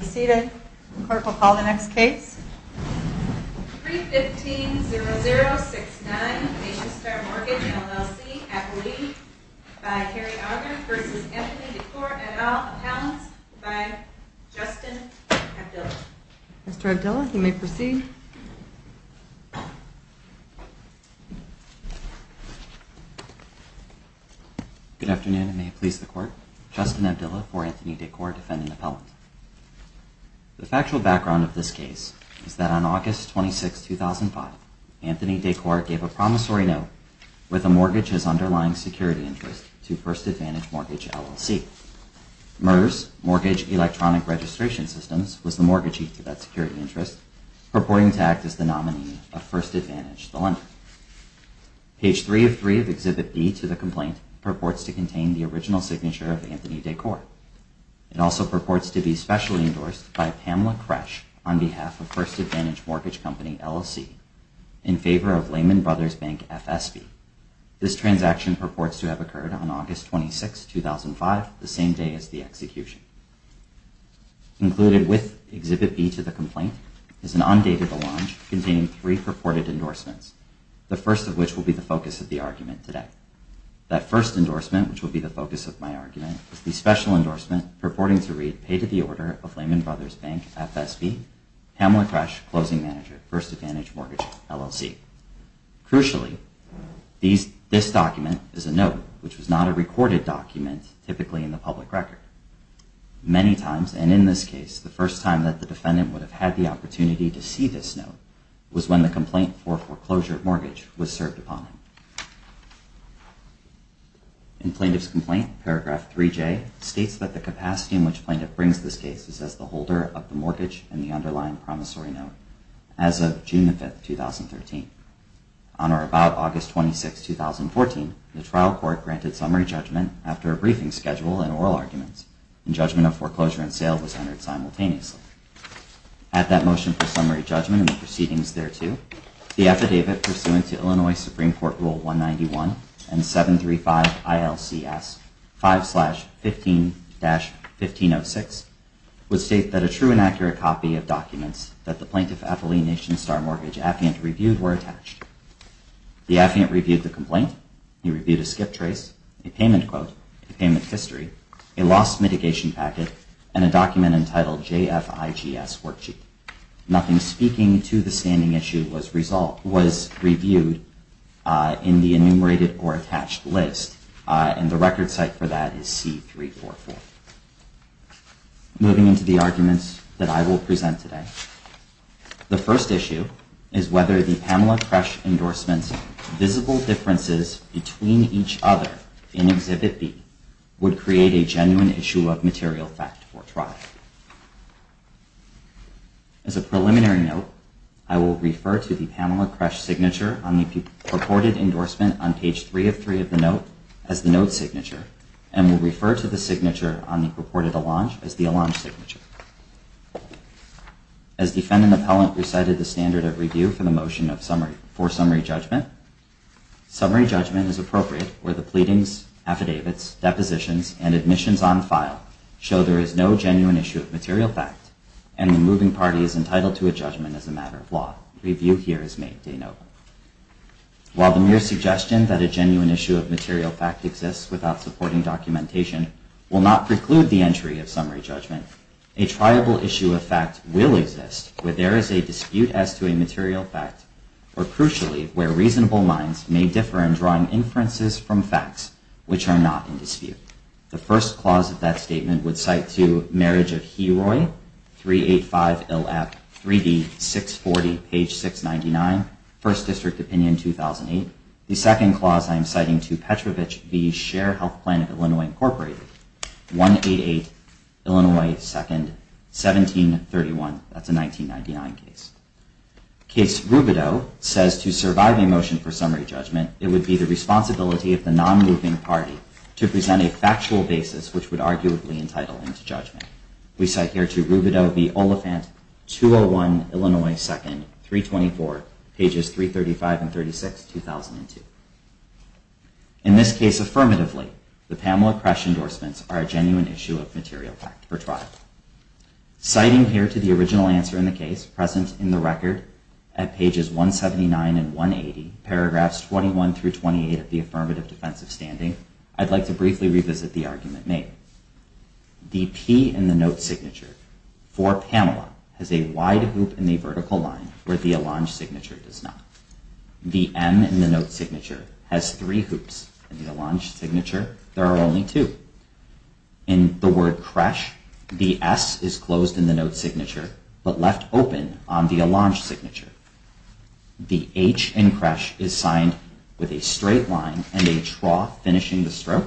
Seated. The court will call the next case. 315-0069 Nationstar Mortgage LLC, Appellee by Kerry Auger v. Anthony DeCore et al., Appellants by Justin Abdillah. Mr. Abdillah, you may proceed. Good afternoon and may it please the court. Justin Abdillah, for Anthony DeCore, defendant appellant. The factual background of this case is that on August 26, 2005, Anthony DeCore gave a promissory note with the mortgage's underlying security interest to First Advantage Mortgage LLC. MERS, Mortgage Electronic Registration Systems, was the mortgagee to that security interest, purporting to act as the nominee of First Advantage, the lender. Page 303 of Exhibit B to the complaint purports to contain the original signature of Anthony DeCore. It also purports to be specially endorsed by Pamela Kresh on behalf of First Advantage Mortgage Company, LLC, in favor of Lehman Brothers Bank FSB. This transaction purports to have occurred on August 26, 2005, the same day as the execution. Included with Exhibit B to the complaint is an undated allonge containing three purported endorsements, the first of which will be the focus of the argument today. That first endorsement, which will be the focus of my argument, is the special endorsement purporting to read, Pay to the Order of Lehman Brothers Bank FSB, Pamela Kresh, Closing Manager, First Advantage Mortgage, LLC. Crucially, this document is a note, which was not a recorded document typically in the public record. Many times, and in this case, the first time that the defendant would have had the opportunity to see this note was when the complaint for foreclosure mortgage was filed. Plaintiff's complaint, paragraph 3J, states that the capacity in which plaintiff brings this case is as the holder of the mortgage and the underlying promissory note, as of June 5, 2013. On or about August 26, 2014, the trial court granted summary judgment after a briefing schedule and oral arguments, and judgment of foreclosure and sale was entered simultaneously. At that motion for summary judgment and the proceedings thereto, the affidavit pursuant to Illinois Supreme Court Rule 191 and 735 ILCS 5-15-1506 would state that a true and accurate copy of documents that the plaintiff, Ethelene Nation Star Mortgage, Affiant, reviewed were attached. The affiant reviewed the complaint. He reviewed a skip trace, a payment quote, a payment history, a loss mitigation packet, and a document entitled JFIGS Worksheet. Nothing speaking to the standing issue was reviewed in the enumerated or attached list, and the record site for that is C-344. Moving into the arguments that I will present today, the first issue is whether the Pamela Kresch endorsement's visible differences between each other in Exhibit B would create a genuine issue of material fact for trial. As a preliminary note, I will refer to the Pamela Kresch signature on the purported endorsement on page 3 of 3 of the note as the note signature, and will refer to the signature on the purported allonge as the allonge signature. As defendant and appellant recited the standard of review for the motion for summary judgment, summary judgment is appropriate where the pleadings, affidavits, depositions, and admissions on file show there is no genuine issue of material fact, and the moving party is entitled to a judgment as a matter of law. Review here is made, de novo. While the mere suggestion that a genuine issue of material fact exists without supporting documentation will not preclude the entry of summary judgment, a triable issue of fact will exist where there is a dispute as to a material fact, or crucially, where reasonable minds may differ in drawing inferences from facts which are not in dispute. The first clause of that statement would cite to Marriage of Heroy, 385 LF, 3D, 640, page 699, First District Opinion, 2008. The second clause I am citing to Petrovich v. Share Health Plan of Illinois Incorporated, 188 Illinois 2nd, 1731. That's a 1999 case. Case Rubidoux says to survive a motion for summary judgment, it would be the responsibility of the non-moving party to present a factual basis which would arguably entitle them to judgment. We cite here to Rubidoux v. Oliphant, 201 Illinois 2nd, 324, pages 335 and 36, 2002. In this case, affirmatively, the Pamela Crash endorsements are a genuine issue of material fact for trial. Citing here to the original answer in the case, present in the record at pages 179 and 180, paragraphs 21 through 28 of the affirmative defense of standing, I'd like to briefly revisit the argument made. The P in the note signature for Pamela has a wide hoop in the vertical line where the Allonge signature does not. The M in the note signature has three hoops. In the Allonge signature, there are only two. In the word Crash, the S is closed in the note signature but left open on the Allonge signature. The H in Crash is signed with a straight line and a trough finishing the stroke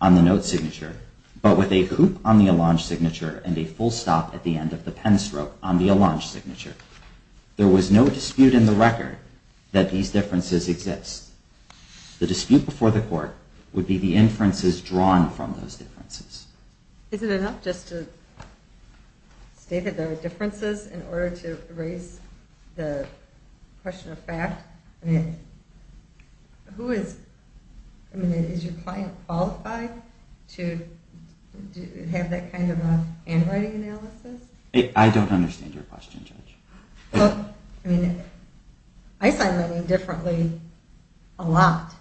on the note signature but with a hoop on the Allonge signature and a full stop at the end of the pen stroke on the Allonge signature. There was no dispute in the record that these differences exist. The dispute before the court would be the inferences drawn from those differences. Is it enough just to state that there are differences in order to raise the question of fact? I mean, is your client qualified to have that kind of a handwriting analysis? I don't understand your question, Judge. Well, I mean, I sign my name differently a lot.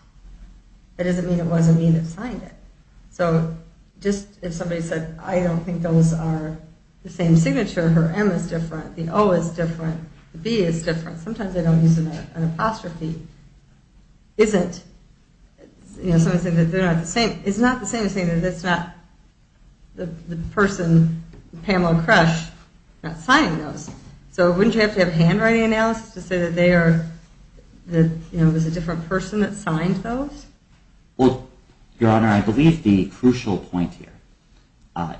That doesn't mean it wasn't me that signed it. So just if somebody said, I don't think those are the same signature, her M is different, the O is different, the B is different. Sometimes they don't use an apostrophe. Is not the same as saying that it's not the person, Pamela Crash, not signing those. So wouldn't you have to have handwriting analysis to say that they are, that it was a different person that signed those? Well, Your Honor, I believe the crucial point here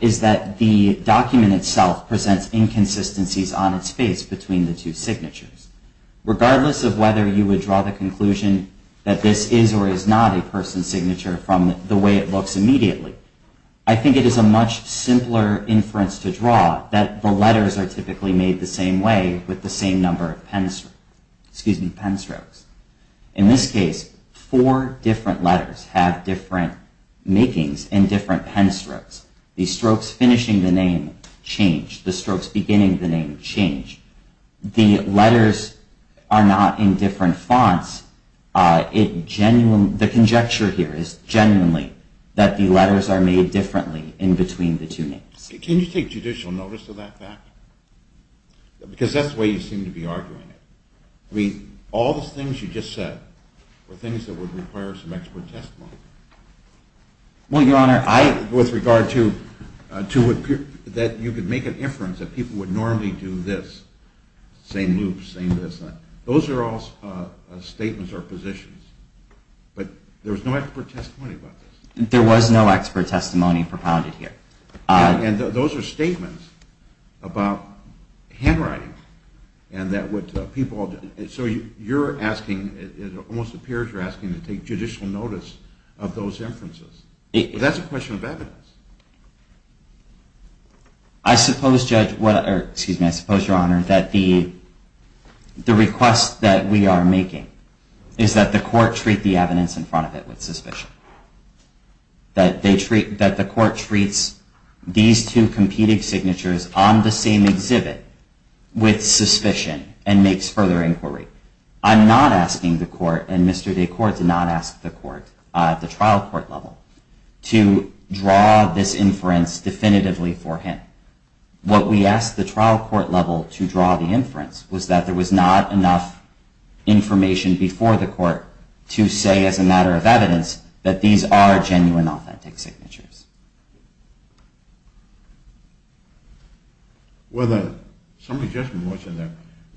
is that the document itself presents inconsistencies on its face between the two signatures. Regardless of whether you would draw the conclusion that this is or is not a person's signature from the way it looks immediately, I think it is a much simpler inference to draw that the letters are typically made the same way with the same number of pen strokes. In this case, four different letters have different makings in different pen strokes. The strokes finishing the name change, the strokes beginning the name change. The letters are not in different fonts. The conjecture here is genuinely that the letters are made differently in between the two names. Can you take judicial notice of that fact? Because that's the way you seem to be arguing it. I mean, all those things you just said were things that would require some expert testimony. Well, Your Honor, with regard to that you could make an inference that people would normally do this, same loop, same this. Those are all statements or positions. But there was no expert testimony about this. There was no expert testimony propounded here. And those are statements about handwriting. So you're asking, it almost appears you're asking to take judicial notice of those inferences. But that's a question of evidence. I suppose, Your Honor, that the request that we are making is that the court treat the evidence in front of it with suspicion, that the court treats these two competing signatures on the same exhibit with suspicion and makes further inquiry. I'm not asking the court and Mr. DeCourt to not ask the court at the trial court level to draw this inference definitively for him. What we asked the trial court level to draw the inference was that there was not enough information before the court to say as a matter of evidence that these are genuine authentic signatures. Well, some of the judgment that's in there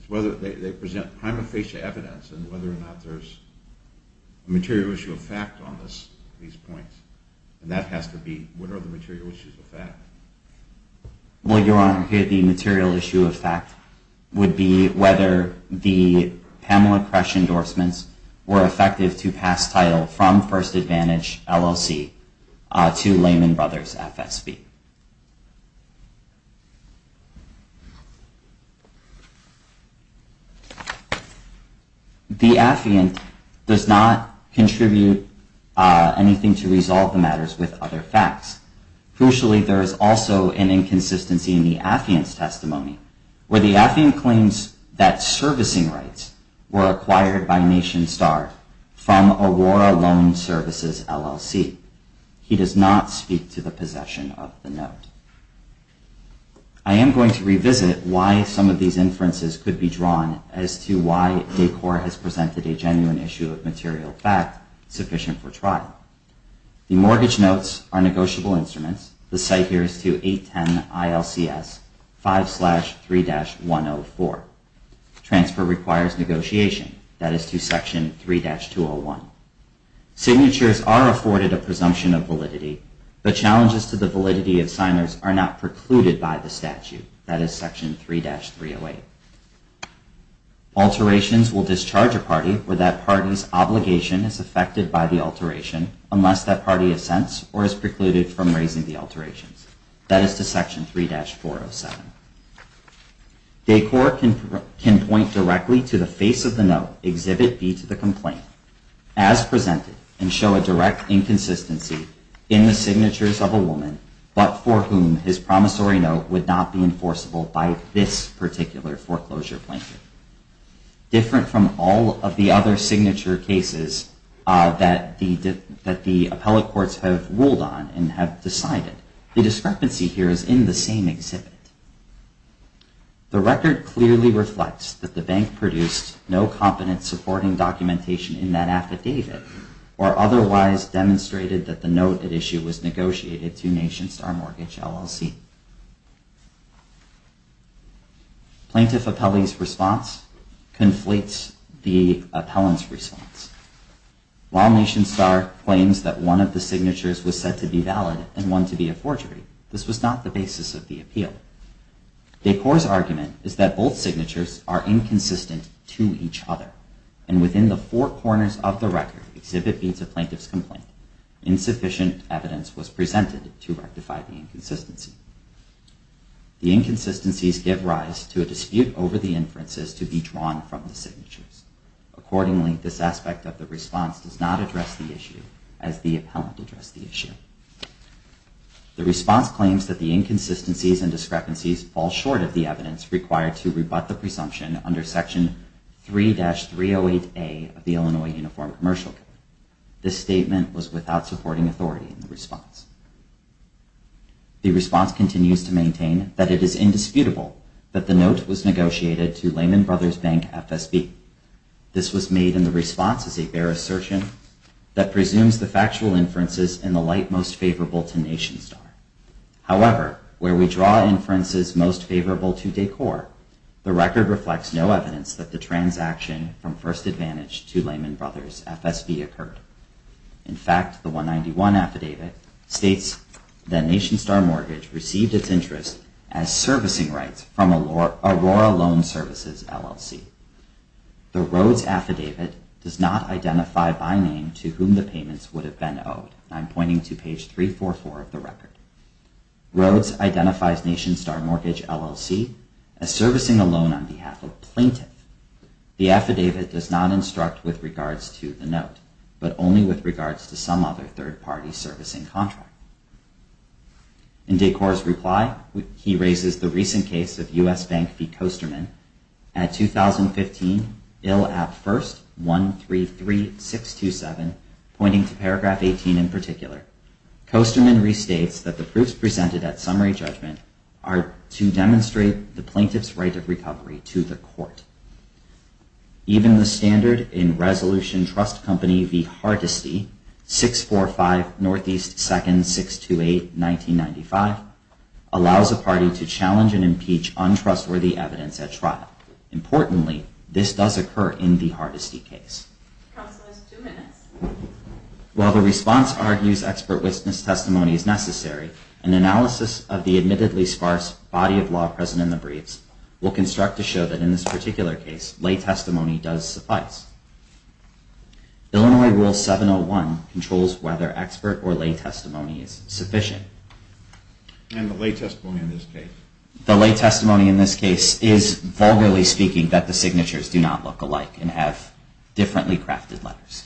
is whether they present prima facie evidence and whether or not there's a material issue of fact on these points. And that has to be, what are the material issues of fact? Well, Your Honor, the material issue of fact would be whether the Pamela Kresch endorsements were effective to pass title from First Advantage LLC to Lehman Brothers FSB. The affiant does not contribute anything to resolve the matters with other facts. Crucially, there is also an inconsistency in the affiant's testimony, where the affiant claims that servicing rights were acquired by Nation Star from Aurora Loan Services LLC. He does not speak to the possession of the note. I am going to revisit why some of these inferences could be drawn as to why DeCourt has presented a genuine issue of material fact sufficient for trial. The mortgage notes are negotiable Transfer requires negotiation. That is to Section 3-201. Signatures are afforded a presumption of validity, but challenges to the validity of signers are not precluded by the statute. That is Section 3-308. Alterations will discharge a party where that party's obligation is affected by the alteration unless that party assents or is precluded from raising the alterations. That is to Section 3-407. DeCourt can point directly to the face of the note, exhibit B to the complaint, as presented, and show a direct inconsistency in the signatures of a woman, but for whom his promissory note would not be enforceable by this particular foreclosure plaintiff. Different from all of the other signature cases that the appellate courts have ruled on and have decided, the discrepancy here is in the same exhibit. The record clearly reflects that the bank produced no competent supporting documentation in that affidavit or otherwise demonstrated that the note at issue was negotiated to Nation Star Mortgage LLC. Plaintiff appellee's response conflates the appellant's response. While Nation Star claims that one of the signatures was said to be valid and one to be a forgery, this was not the basis of the appeal. DeCourt's argument is that both signatures are inconsistent to each other, and within the four corners of the record, exhibit B to plaintiff's complaint, insufficient evidence was presented to rectify the inconsistency. The inconsistencies give rise to a dispute over the inferences to be drawn from the signatures. Accordingly, this aspect of the response does not address the issue as the appellant addressed the issue. The response claims that the inconsistencies and discrepancies fall short of the evidence required to rebut the presumption under Section 3-308A of the Illinois Uniform Commercial Code. This statement was without supporting authority in the response. The response continues to maintain that it is indisputable that the note was negotiated to bear assertion that presumes the factual inferences in the light most favorable to Nation Star. However, where we draw inferences most favorable to DeCourt, the record reflects no evidence that the transaction from First Advantage to Lehman Brothers FSB occurred. In fact, the 191 affidavit states that Nation Star Mortgage received its interest as servicing rights from Aurora Loan Services, LLC. The Rhodes affidavit does not identify by name to whom the payments would have been owed. I'm pointing to page 344 of the record. Rhodes identifies Nation Star Mortgage, LLC, as servicing a loan on behalf of plaintiff. The affidavit does not instruct with regards to the note, but only with regards to some other third-party servicing contract. In DeCourt's reply, he raises the recent case of U.S. Bank v. Coasterman at 2015, Bill at First 133627, pointing to paragraph 18 in particular. Coasterman restates that the proofs presented at summary judgment are to demonstrate the plaintiff's right of recovery to the court. Even the standard in challenge and impeach untrustworthy evidence at trial. Importantly, this does occur in the Hardesty case. While the response argues expert witness testimony is necessary, an analysis of the admittedly sparse body of law present in the briefs will construct to show that in this particular case, lay testimony does suffice. Illinois Rule 701 controls whether expert or non-expert witness testimony is necessary. The lay testimony in this case is, vulgarly speaking, that the signatures do not look alike and have differently crafted letters.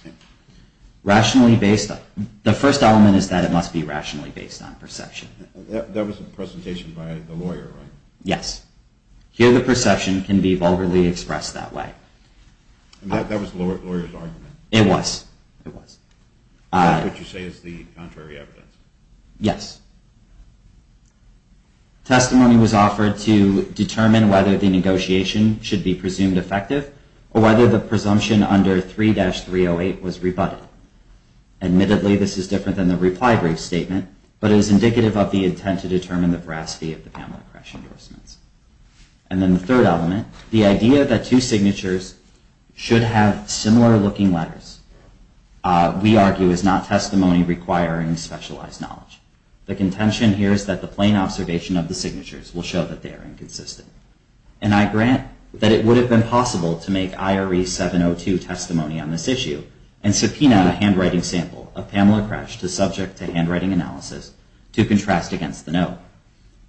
The first element is that it must be rationally based on perception. That was a presentation by the lawyer, right? Yes. Here, the perception can be vulgarly expressed that way. That was the lawyer's argument? It was. And that's what you say is the contrary evidence? Yes. Testimony was offered to determine whether the negotiation should be presumed effective or whether the presumption under 3-308 was rebutted. Admittedly, this is different than the reply brief statement, but it is indicative of the intent to determine the veracity of the Pamela Crash endorsements. And then the third element, the idea that two signatures should have similar looking letters, we argue is not testimony requiring specialized knowledge. The contention here is that the plain observation of the signatures will show that they are inconsistent. And I grant that it would have been possible to make IRE 702 testimony on this issue and subpoena a handwriting sample of Pamela Crash to subject to handwriting analysis to contrast against the note.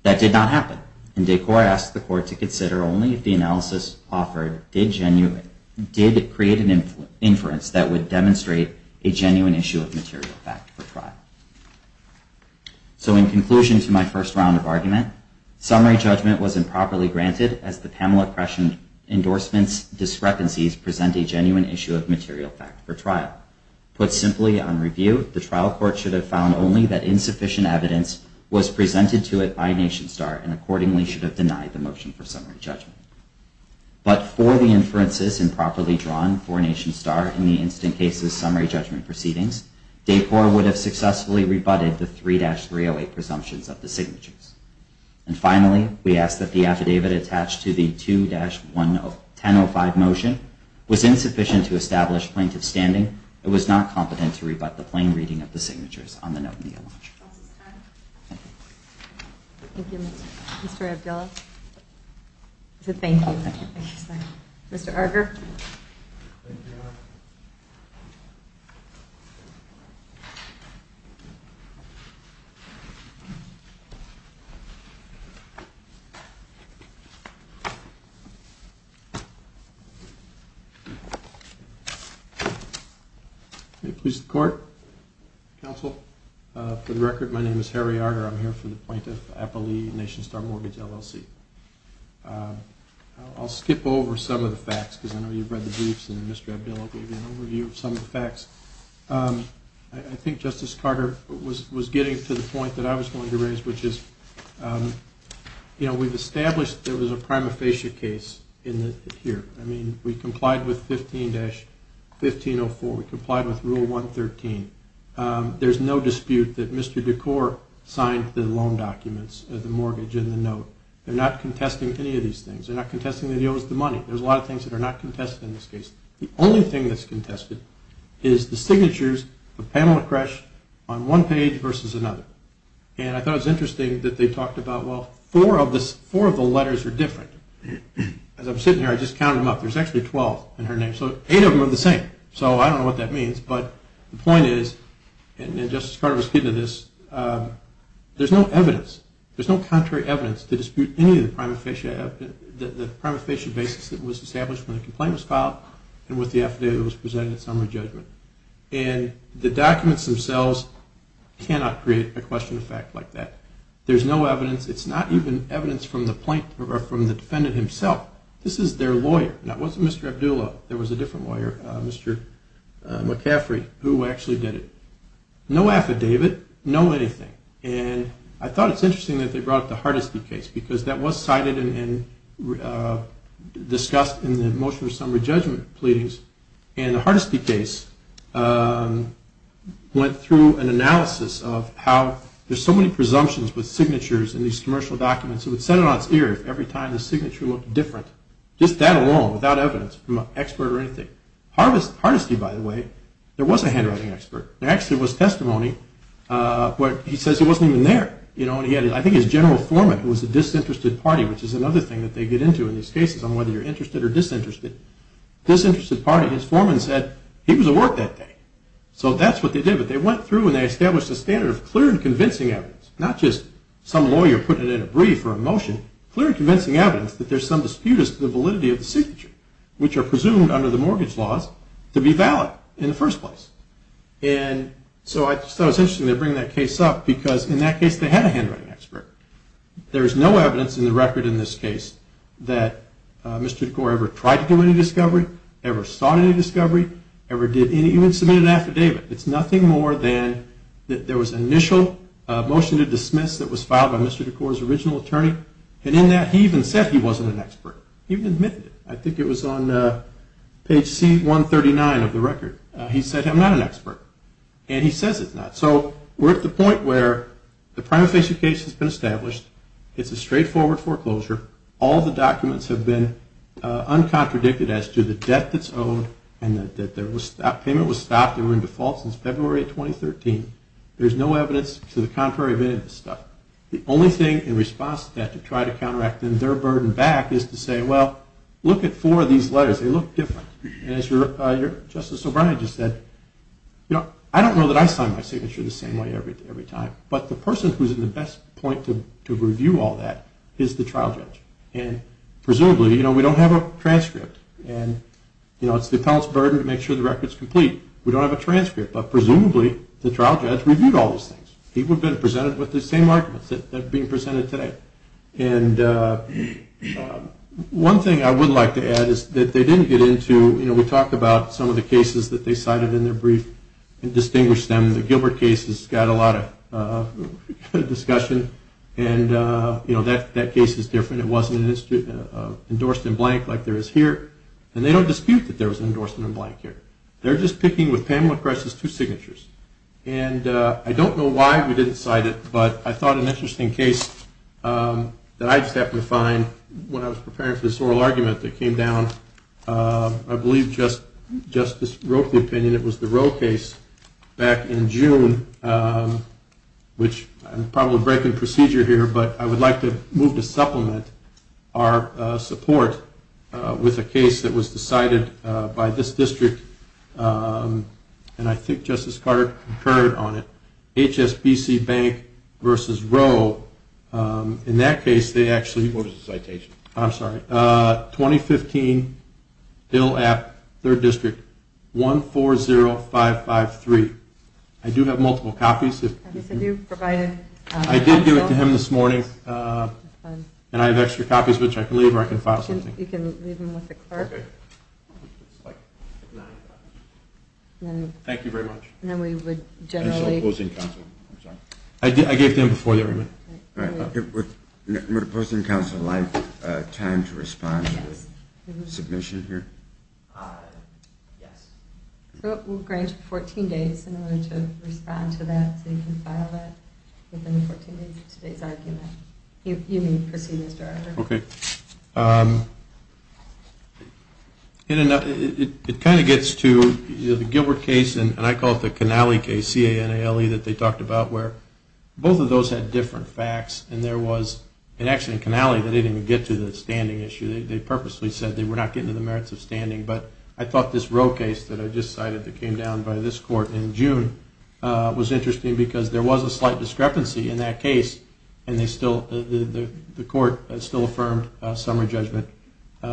That did not happen, and did court ask the court to consider only if the analysis offered did create an inference that would demonstrate a genuine issue of material fact for trial. So in conclusion to my first round of argument, summary judgment was improperly granted as the Pamela Crash endorsements discrepancies present a genuine issue of material fact for trial. Put simply on review, the trial court should have found only that insufficient evidence was presented to it by Nation Star and accordingly should have denied the motion for summary judgment. But for the inferences improperly four Nation Star in the instant cases summary judgment proceedings, DAPOR would have successfully rebutted the 3-308 presumptions of the signatures. And finally, we ask that the affidavit attached to the 2-1005 motion was insufficient to establish plaintiff's standing. It was not competent to rebut the plain reading of the motion. May it please the court. Counsel, for the record, my name is Harry Arter. I'm here for the plaintiff Nation Star Mortgage LLC. I'll skip over some of the facts because I know you've read the briefs and Mr. Abbello gave you an overview of some of the facts. I think Justice Carter was getting to the point that I was going to raise, which is, you know, we've established there was a prima facie case in here. I mean, we complied with 15-1504. We complied with Rule 113. There's no dispute that Mr. Decor signed the loan documents, the mortgage and the note. They're not contesting any of these things. They're not contesting the deal was the money. There's a lot of things that are not contested in this case. The only thing that's contested is the signatures of Pamela Kresh on one page versus another. And I thought it was interesting that they talked about, well, four of the letters are different. As I'm sitting here, I just counted them up. There's actually 12 in her name. So eight of them are the same. So I mean, Justice Carter was getting to this. There's no evidence. There's no contrary evidence to dispute any of the prima facie basis that was established when the complaint was filed and with the affidavit that was presented in summary judgment. And the documents themselves cannot create a question of fact like that. There's no evidence. It's not even evidence from the defendant himself. This is their lawyer. Now, it wasn't Mr. Abdullo. There was a different lawyer, Mr. McCaffrey, who actually did it. No affidavit, no anything. And I thought it's interesting that they brought up the Hardesty case because that was cited and discussed in the motion of summary judgment pleadings. And the Hardesty case went through an analysis of how there's so many presumptions with signatures in these commercial documents. It would set it on its ear if every Hardesty, by the way, there was a handwriting expert. There actually was testimony where he says he wasn't even there. I think his general foreman, who was a disinterested party, which is another thing that they get into in these cases on whether you're interested or disinterested, disinterested party, his foreman said he was at work that day. So that's what they did. But they went through and they established a standard of clear and convincing evidence, not just some lawyer putting it in a brief or a motion, clear and convincing evidence that there's some dispute the validity of the signature, which are presumed under the mortgage laws to be valid in the first place. And so I just thought it was interesting they bring that case up because in that case they had a handwriting expert. There's no evidence in the record in this case that Mr. DeCore ever tried to do any discovery, ever sought any discovery, ever did any, even submitted an affidavit. It's nothing more than there was initial motion to dismiss that was filed by Mr. DeCore's original even admitted it. I think it was on page C139 of the record. He said, I'm not an expert. And he says it's not. So we're at the point where the prima facie case has been established. It's a straightforward foreclosure. All the documents have been uncontradicted as to the debt that's owed and that payment was stopped. They were in default since February of 2013. There's no evidence to the contrary of any of this stuff. The only thing in response to that to try to their burden back is to say, well, look at four of these letters. They look different. And as Justice O'Brien just said, I don't know that I sign my signature the same way every time. But the person who's in the best point to review all that is the trial judge. And presumably we don't have a transcript. And it's the appellate's burden to make sure the record's complete. We don't have a transcript. But presumably the trial judge reviewed all those things. People have been being presented today. And one thing I would like to add is that they didn't get into, we talked about some of the cases that they cited in their brief and distinguished them. The Gilbert case has got a lot of discussion. And that case is different. It wasn't endorsed in blank like there is here. And they don't dispute that there was an endorsement in blank here. They're just picking with Pamela Cress's two signatures. And I don't know why we didn't cite it. But I thought an interesting case that I just happened to find when I was preparing for this oral argument that came down, I believe Justice wrote the opinion. It was the Roe case back in June, which I'm probably breaking procedure here. But I would like to move to supplement our support with a case that was decided by this district. And I think Justice Carter concurred on it. HSBC Bank versus Roe. In that case, they actually, what was the citation? I'm sorry. 2015, Hill App, 3rd District, 140553. I do have multiple copies. I did give it to him this morning. And I have extra copies, which I can leave or I can file You can leave them with the clerk. Thank you very much. And then we would generally closing council. I gave them before everyone. We're posting council line time to respond to this submission here. Yes. We'll grant 14 days in order to respond to that. So you can file that in 14 days for today's argument. You may proceed, Mr. Arthur. Okay. It kind of gets to the Gilbert case, and I call it the Canale case, C-A-N-A-L-E, that they talked about where both of those had different facts. And there was, and actually in Canale, they didn't even get to the standing issue. They purposely said they were not getting to the merits of standing. But I thought this Roe case that I just cited that came down by this was interesting because there was a slight discrepancy in that case, and the court still affirmed summary judgment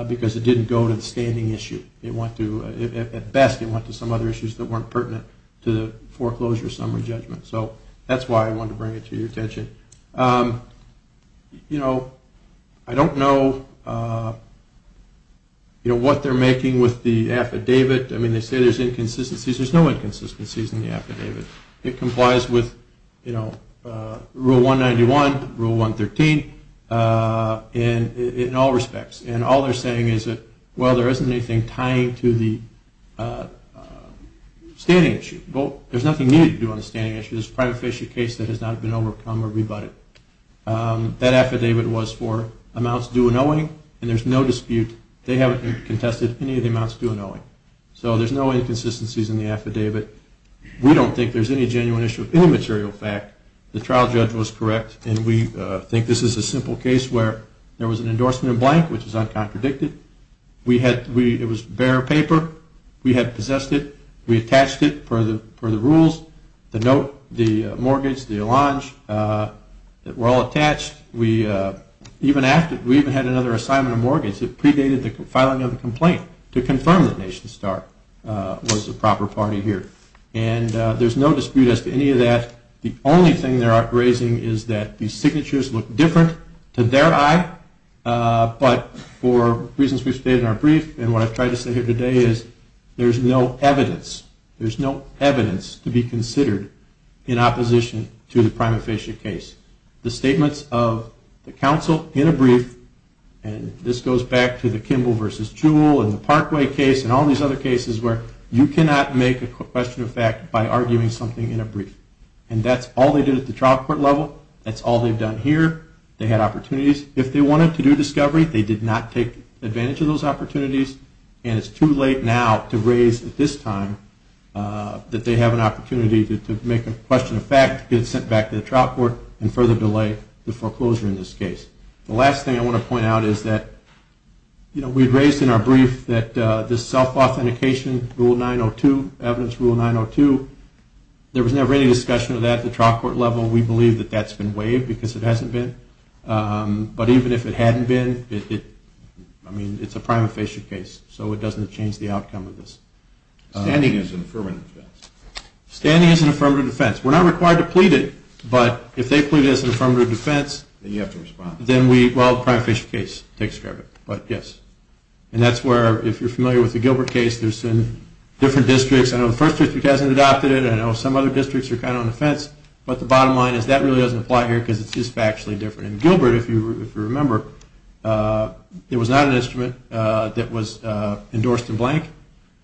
because it didn't go to the standing issue. At best, it went to some other issues that weren't pertinent to the foreclosure summary judgment. So that's why I wanted to bring it to your attention. I don't know what they're making with the affidavit. I mean, they say there's inconsistencies. There's no inconsistencies in the affidavit. It complies with, you know, Rule 191, Rule 113, in all respects. And all they're saying is that, well, there isn't anything tying to the standing issue. There's nothing new to do on the standing issue. It's a prima facie case that has not been overcome or rebutted. That affidavit was for amounts due and owing, and there's no dispute. They haven't contested any of the amounts due and owing. So there's no inconsistencies in the affidavit. We don't think there's any genuine issue of any material fact. The trial judge was correct, and we think this is a simple case where there was an endorsement in blank, which is uncontradicted. It was bare paper. We had possessed it. We attached it for the rules, the note, the mortgage, the allonge. It were all attached. We even had another assignment of mortgage that predated the filing of the complaint to confirm that Nation Star was the proper party here. And there's no dispute as to any of that. The only thing they're raising is that the signatures look different to their eye, but for reasons we've stated in our brief and what I've tried to say here today is there's no evidence. There's no evidence to be considered in opposition to the prima facie case. The Parkway case and all these other cases where you cannot make a question of fact by arguing something in a brief. And that's all they did at the trial court level. That's all they've done here. They had opportunities. If they wanted to do discovery, they did not take advantage of those opportunities, and it's too late now to raise at this time that they have an opportunity to make a question of fact, get it sent back to the trial court, and further delay the foreclosure in this self-authentication rule 902, evidence rule 902. There was never any discussion of that at the trial court level. We believe that that's been waived because it hasn't been. But even if it hadn't been, I mean, it's a prima facie case, so it doesn't change the outcome of this. Standing as an affirmative defense. Standing as an affirmative defense. We're not required to plead it, but if they plead it as an affirmative defense... Then you have to respond. Then we, well, prima facie case takes care of it, but yes. And that's where, if you're familiar with the Gilbert case, there's some different districts. I know the first district hasn't adopted it. I know some other districts are kind of on the fence. But the bottom line is that really doesn't apply here because it's just factually different. And Gilbert, if you remember, it was not an instrument that was endorsed in blank.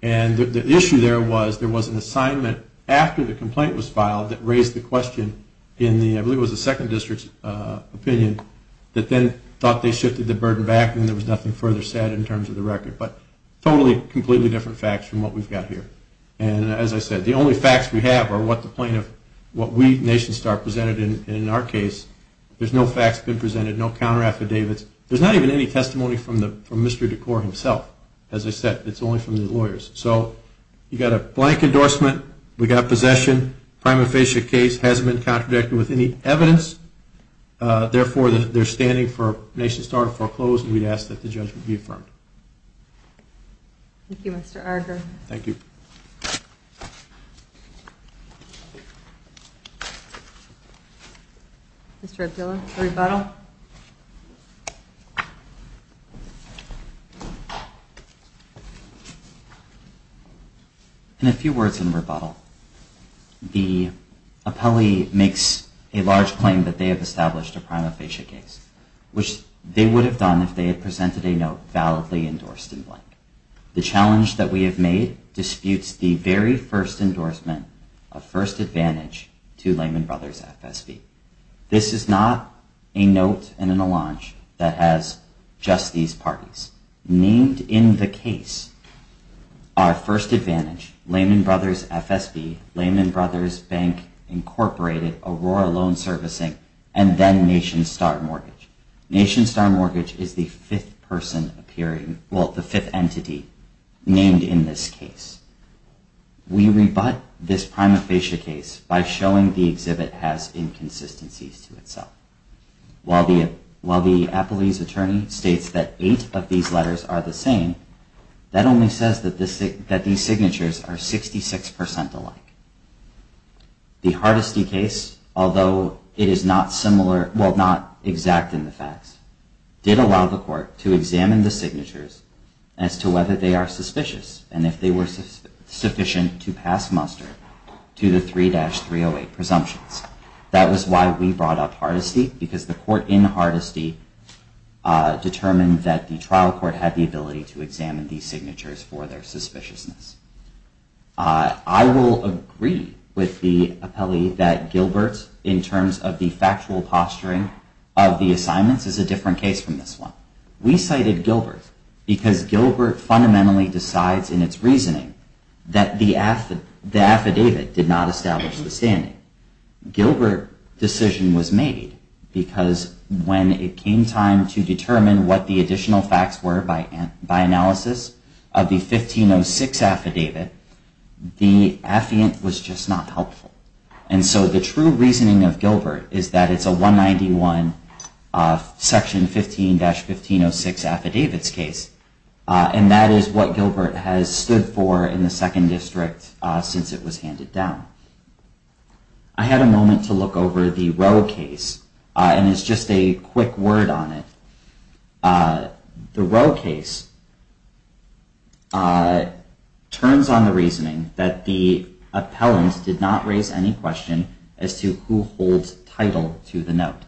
And the issue there was there was an assignment after the complaint was filed that raised the question in the, I believe it was the then thought they shifted the burden back and there was nothing further said in terms of the record. But totally, completely different facts from what we've got here. And as I said, the only facts we have are what the plaintiff, what we, NationStar, presented in our case. There's no facts been presented, no counter affidavits. There's not even any testimony from Mr. DeCore himself. As I said, it's only from the lawyers. So you got a blank endorsement. We got possession. Prima facie case hasn't been contradicted with any evidence. Therefore, they're standing for NationStar to foreclose. And we'd ask that the judgment be affirmed. Thank you, Mr. Arger. Thank you. Mr. Abdullah, for rebuttal. In a few words in rebuttal, the appellee makes a large claim that they have established a prima facie case, which they would have done if they had presented a note validly endorsed in blank. The challenge that we have made disputes the very first endorsement of first advantage to Lehman Brothers FSB. This is not a note and a launch that has just these parties. Named in the case, our first advantage, Lehman Brothers FSB, Lehman Brothers Bank Incorporated, Aurora Loan Servicing, and then NationStar Mortgage. NationStar Mortgage is the fifth person appearing, well, the fifth entity named in this case. We rebut this prima facie case by showing the exhibit has inconsistencies to itself. While the appellee's attorney states that eight of these letters are the same, that only says that these signatures are 66% alike. The Hardesty case, although it is not similar, well, not exact in the facts, did allow the court to examine the signatures as to whether they are suspicious. And if they were sufficient to pass to the 3-308 presumptions. That was why we brought up Hardesty, because the court in Hardesty determined that the trial court had the ability to examine these signatures for their suspiciousness. I will agree with the appellee that Gilbert, in terms of the factual posturing of the assignments, is a different case from this one. We cited Gilbert because Gilbert fundamentally decides in its reasoning that the affidavit did not establish the standing. Gilbert decision was made because when it came time to determine what the additional facts were by analysis of the 1506 affidavit, the affiant was just not helpful. And so the true reasoning of Gilbert is that it's a 191 section 15-1506 affidavits case. And that is what Gilbert has stood for in the second district since it was handed down. I had a moment to look over the Roe case, and it's just a quick word on it. The Roe case turns on the reasoning that the appellant did raise any question as to who holds title to the note.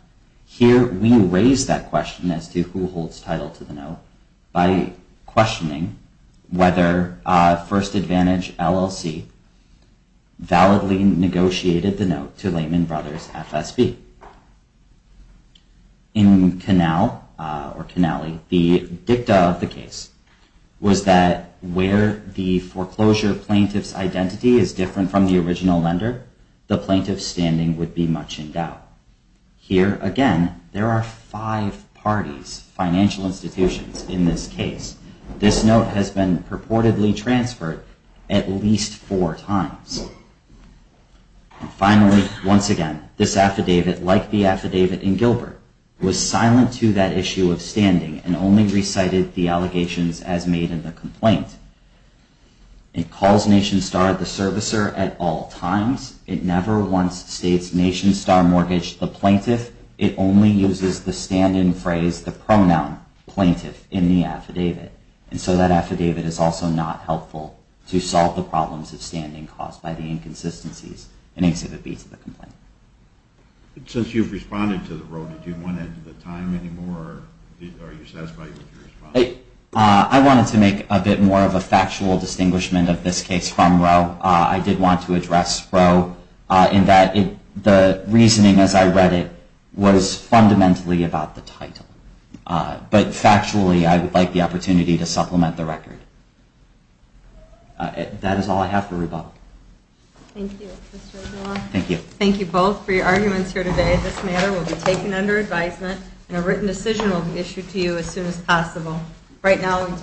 Here, we raise that question as to who holds title to the note by questioning whether First Advantage LLC validly negotiated the note to Lehman Brothers FSB. In Canale, the dicta of the case was that where the foreclosure plaintiff's original lender, the plaintiff's standing would be much in doubt. Here, again, there are five parties, financial institutions, in this case. This note has been purportedly transferred at least four times. Finally, once again, this affidavit, like the affidavit in Gilbert, was silent to that issue of standing and only recited the allegations as made in the complaint. It calls NationStar the servicer at all times. It never once states NationStar mortgage the plaintiff. It only uses the stand-in phrase, the pronoun, plaintiff, in the affidavit. And so that affidavit is also not helpful to solve the problems of standing caused by the inconsistencies in exhibit B to the complaint. Since you've responded to the Roe, did you want to add to the record? I wanted to make a bit more of a factual distinguishment of this case from Roe. I did want to address Roe in that the reasoning as I read it was fundamentally about the title. But factually, I would like the opportunity to supplement the record. That is all I have for rebuttal. Thank you. Thank you both for your arguments here today. This matter will be taken under advisement, and a written decision will be issued to you as soon as possible. Right now...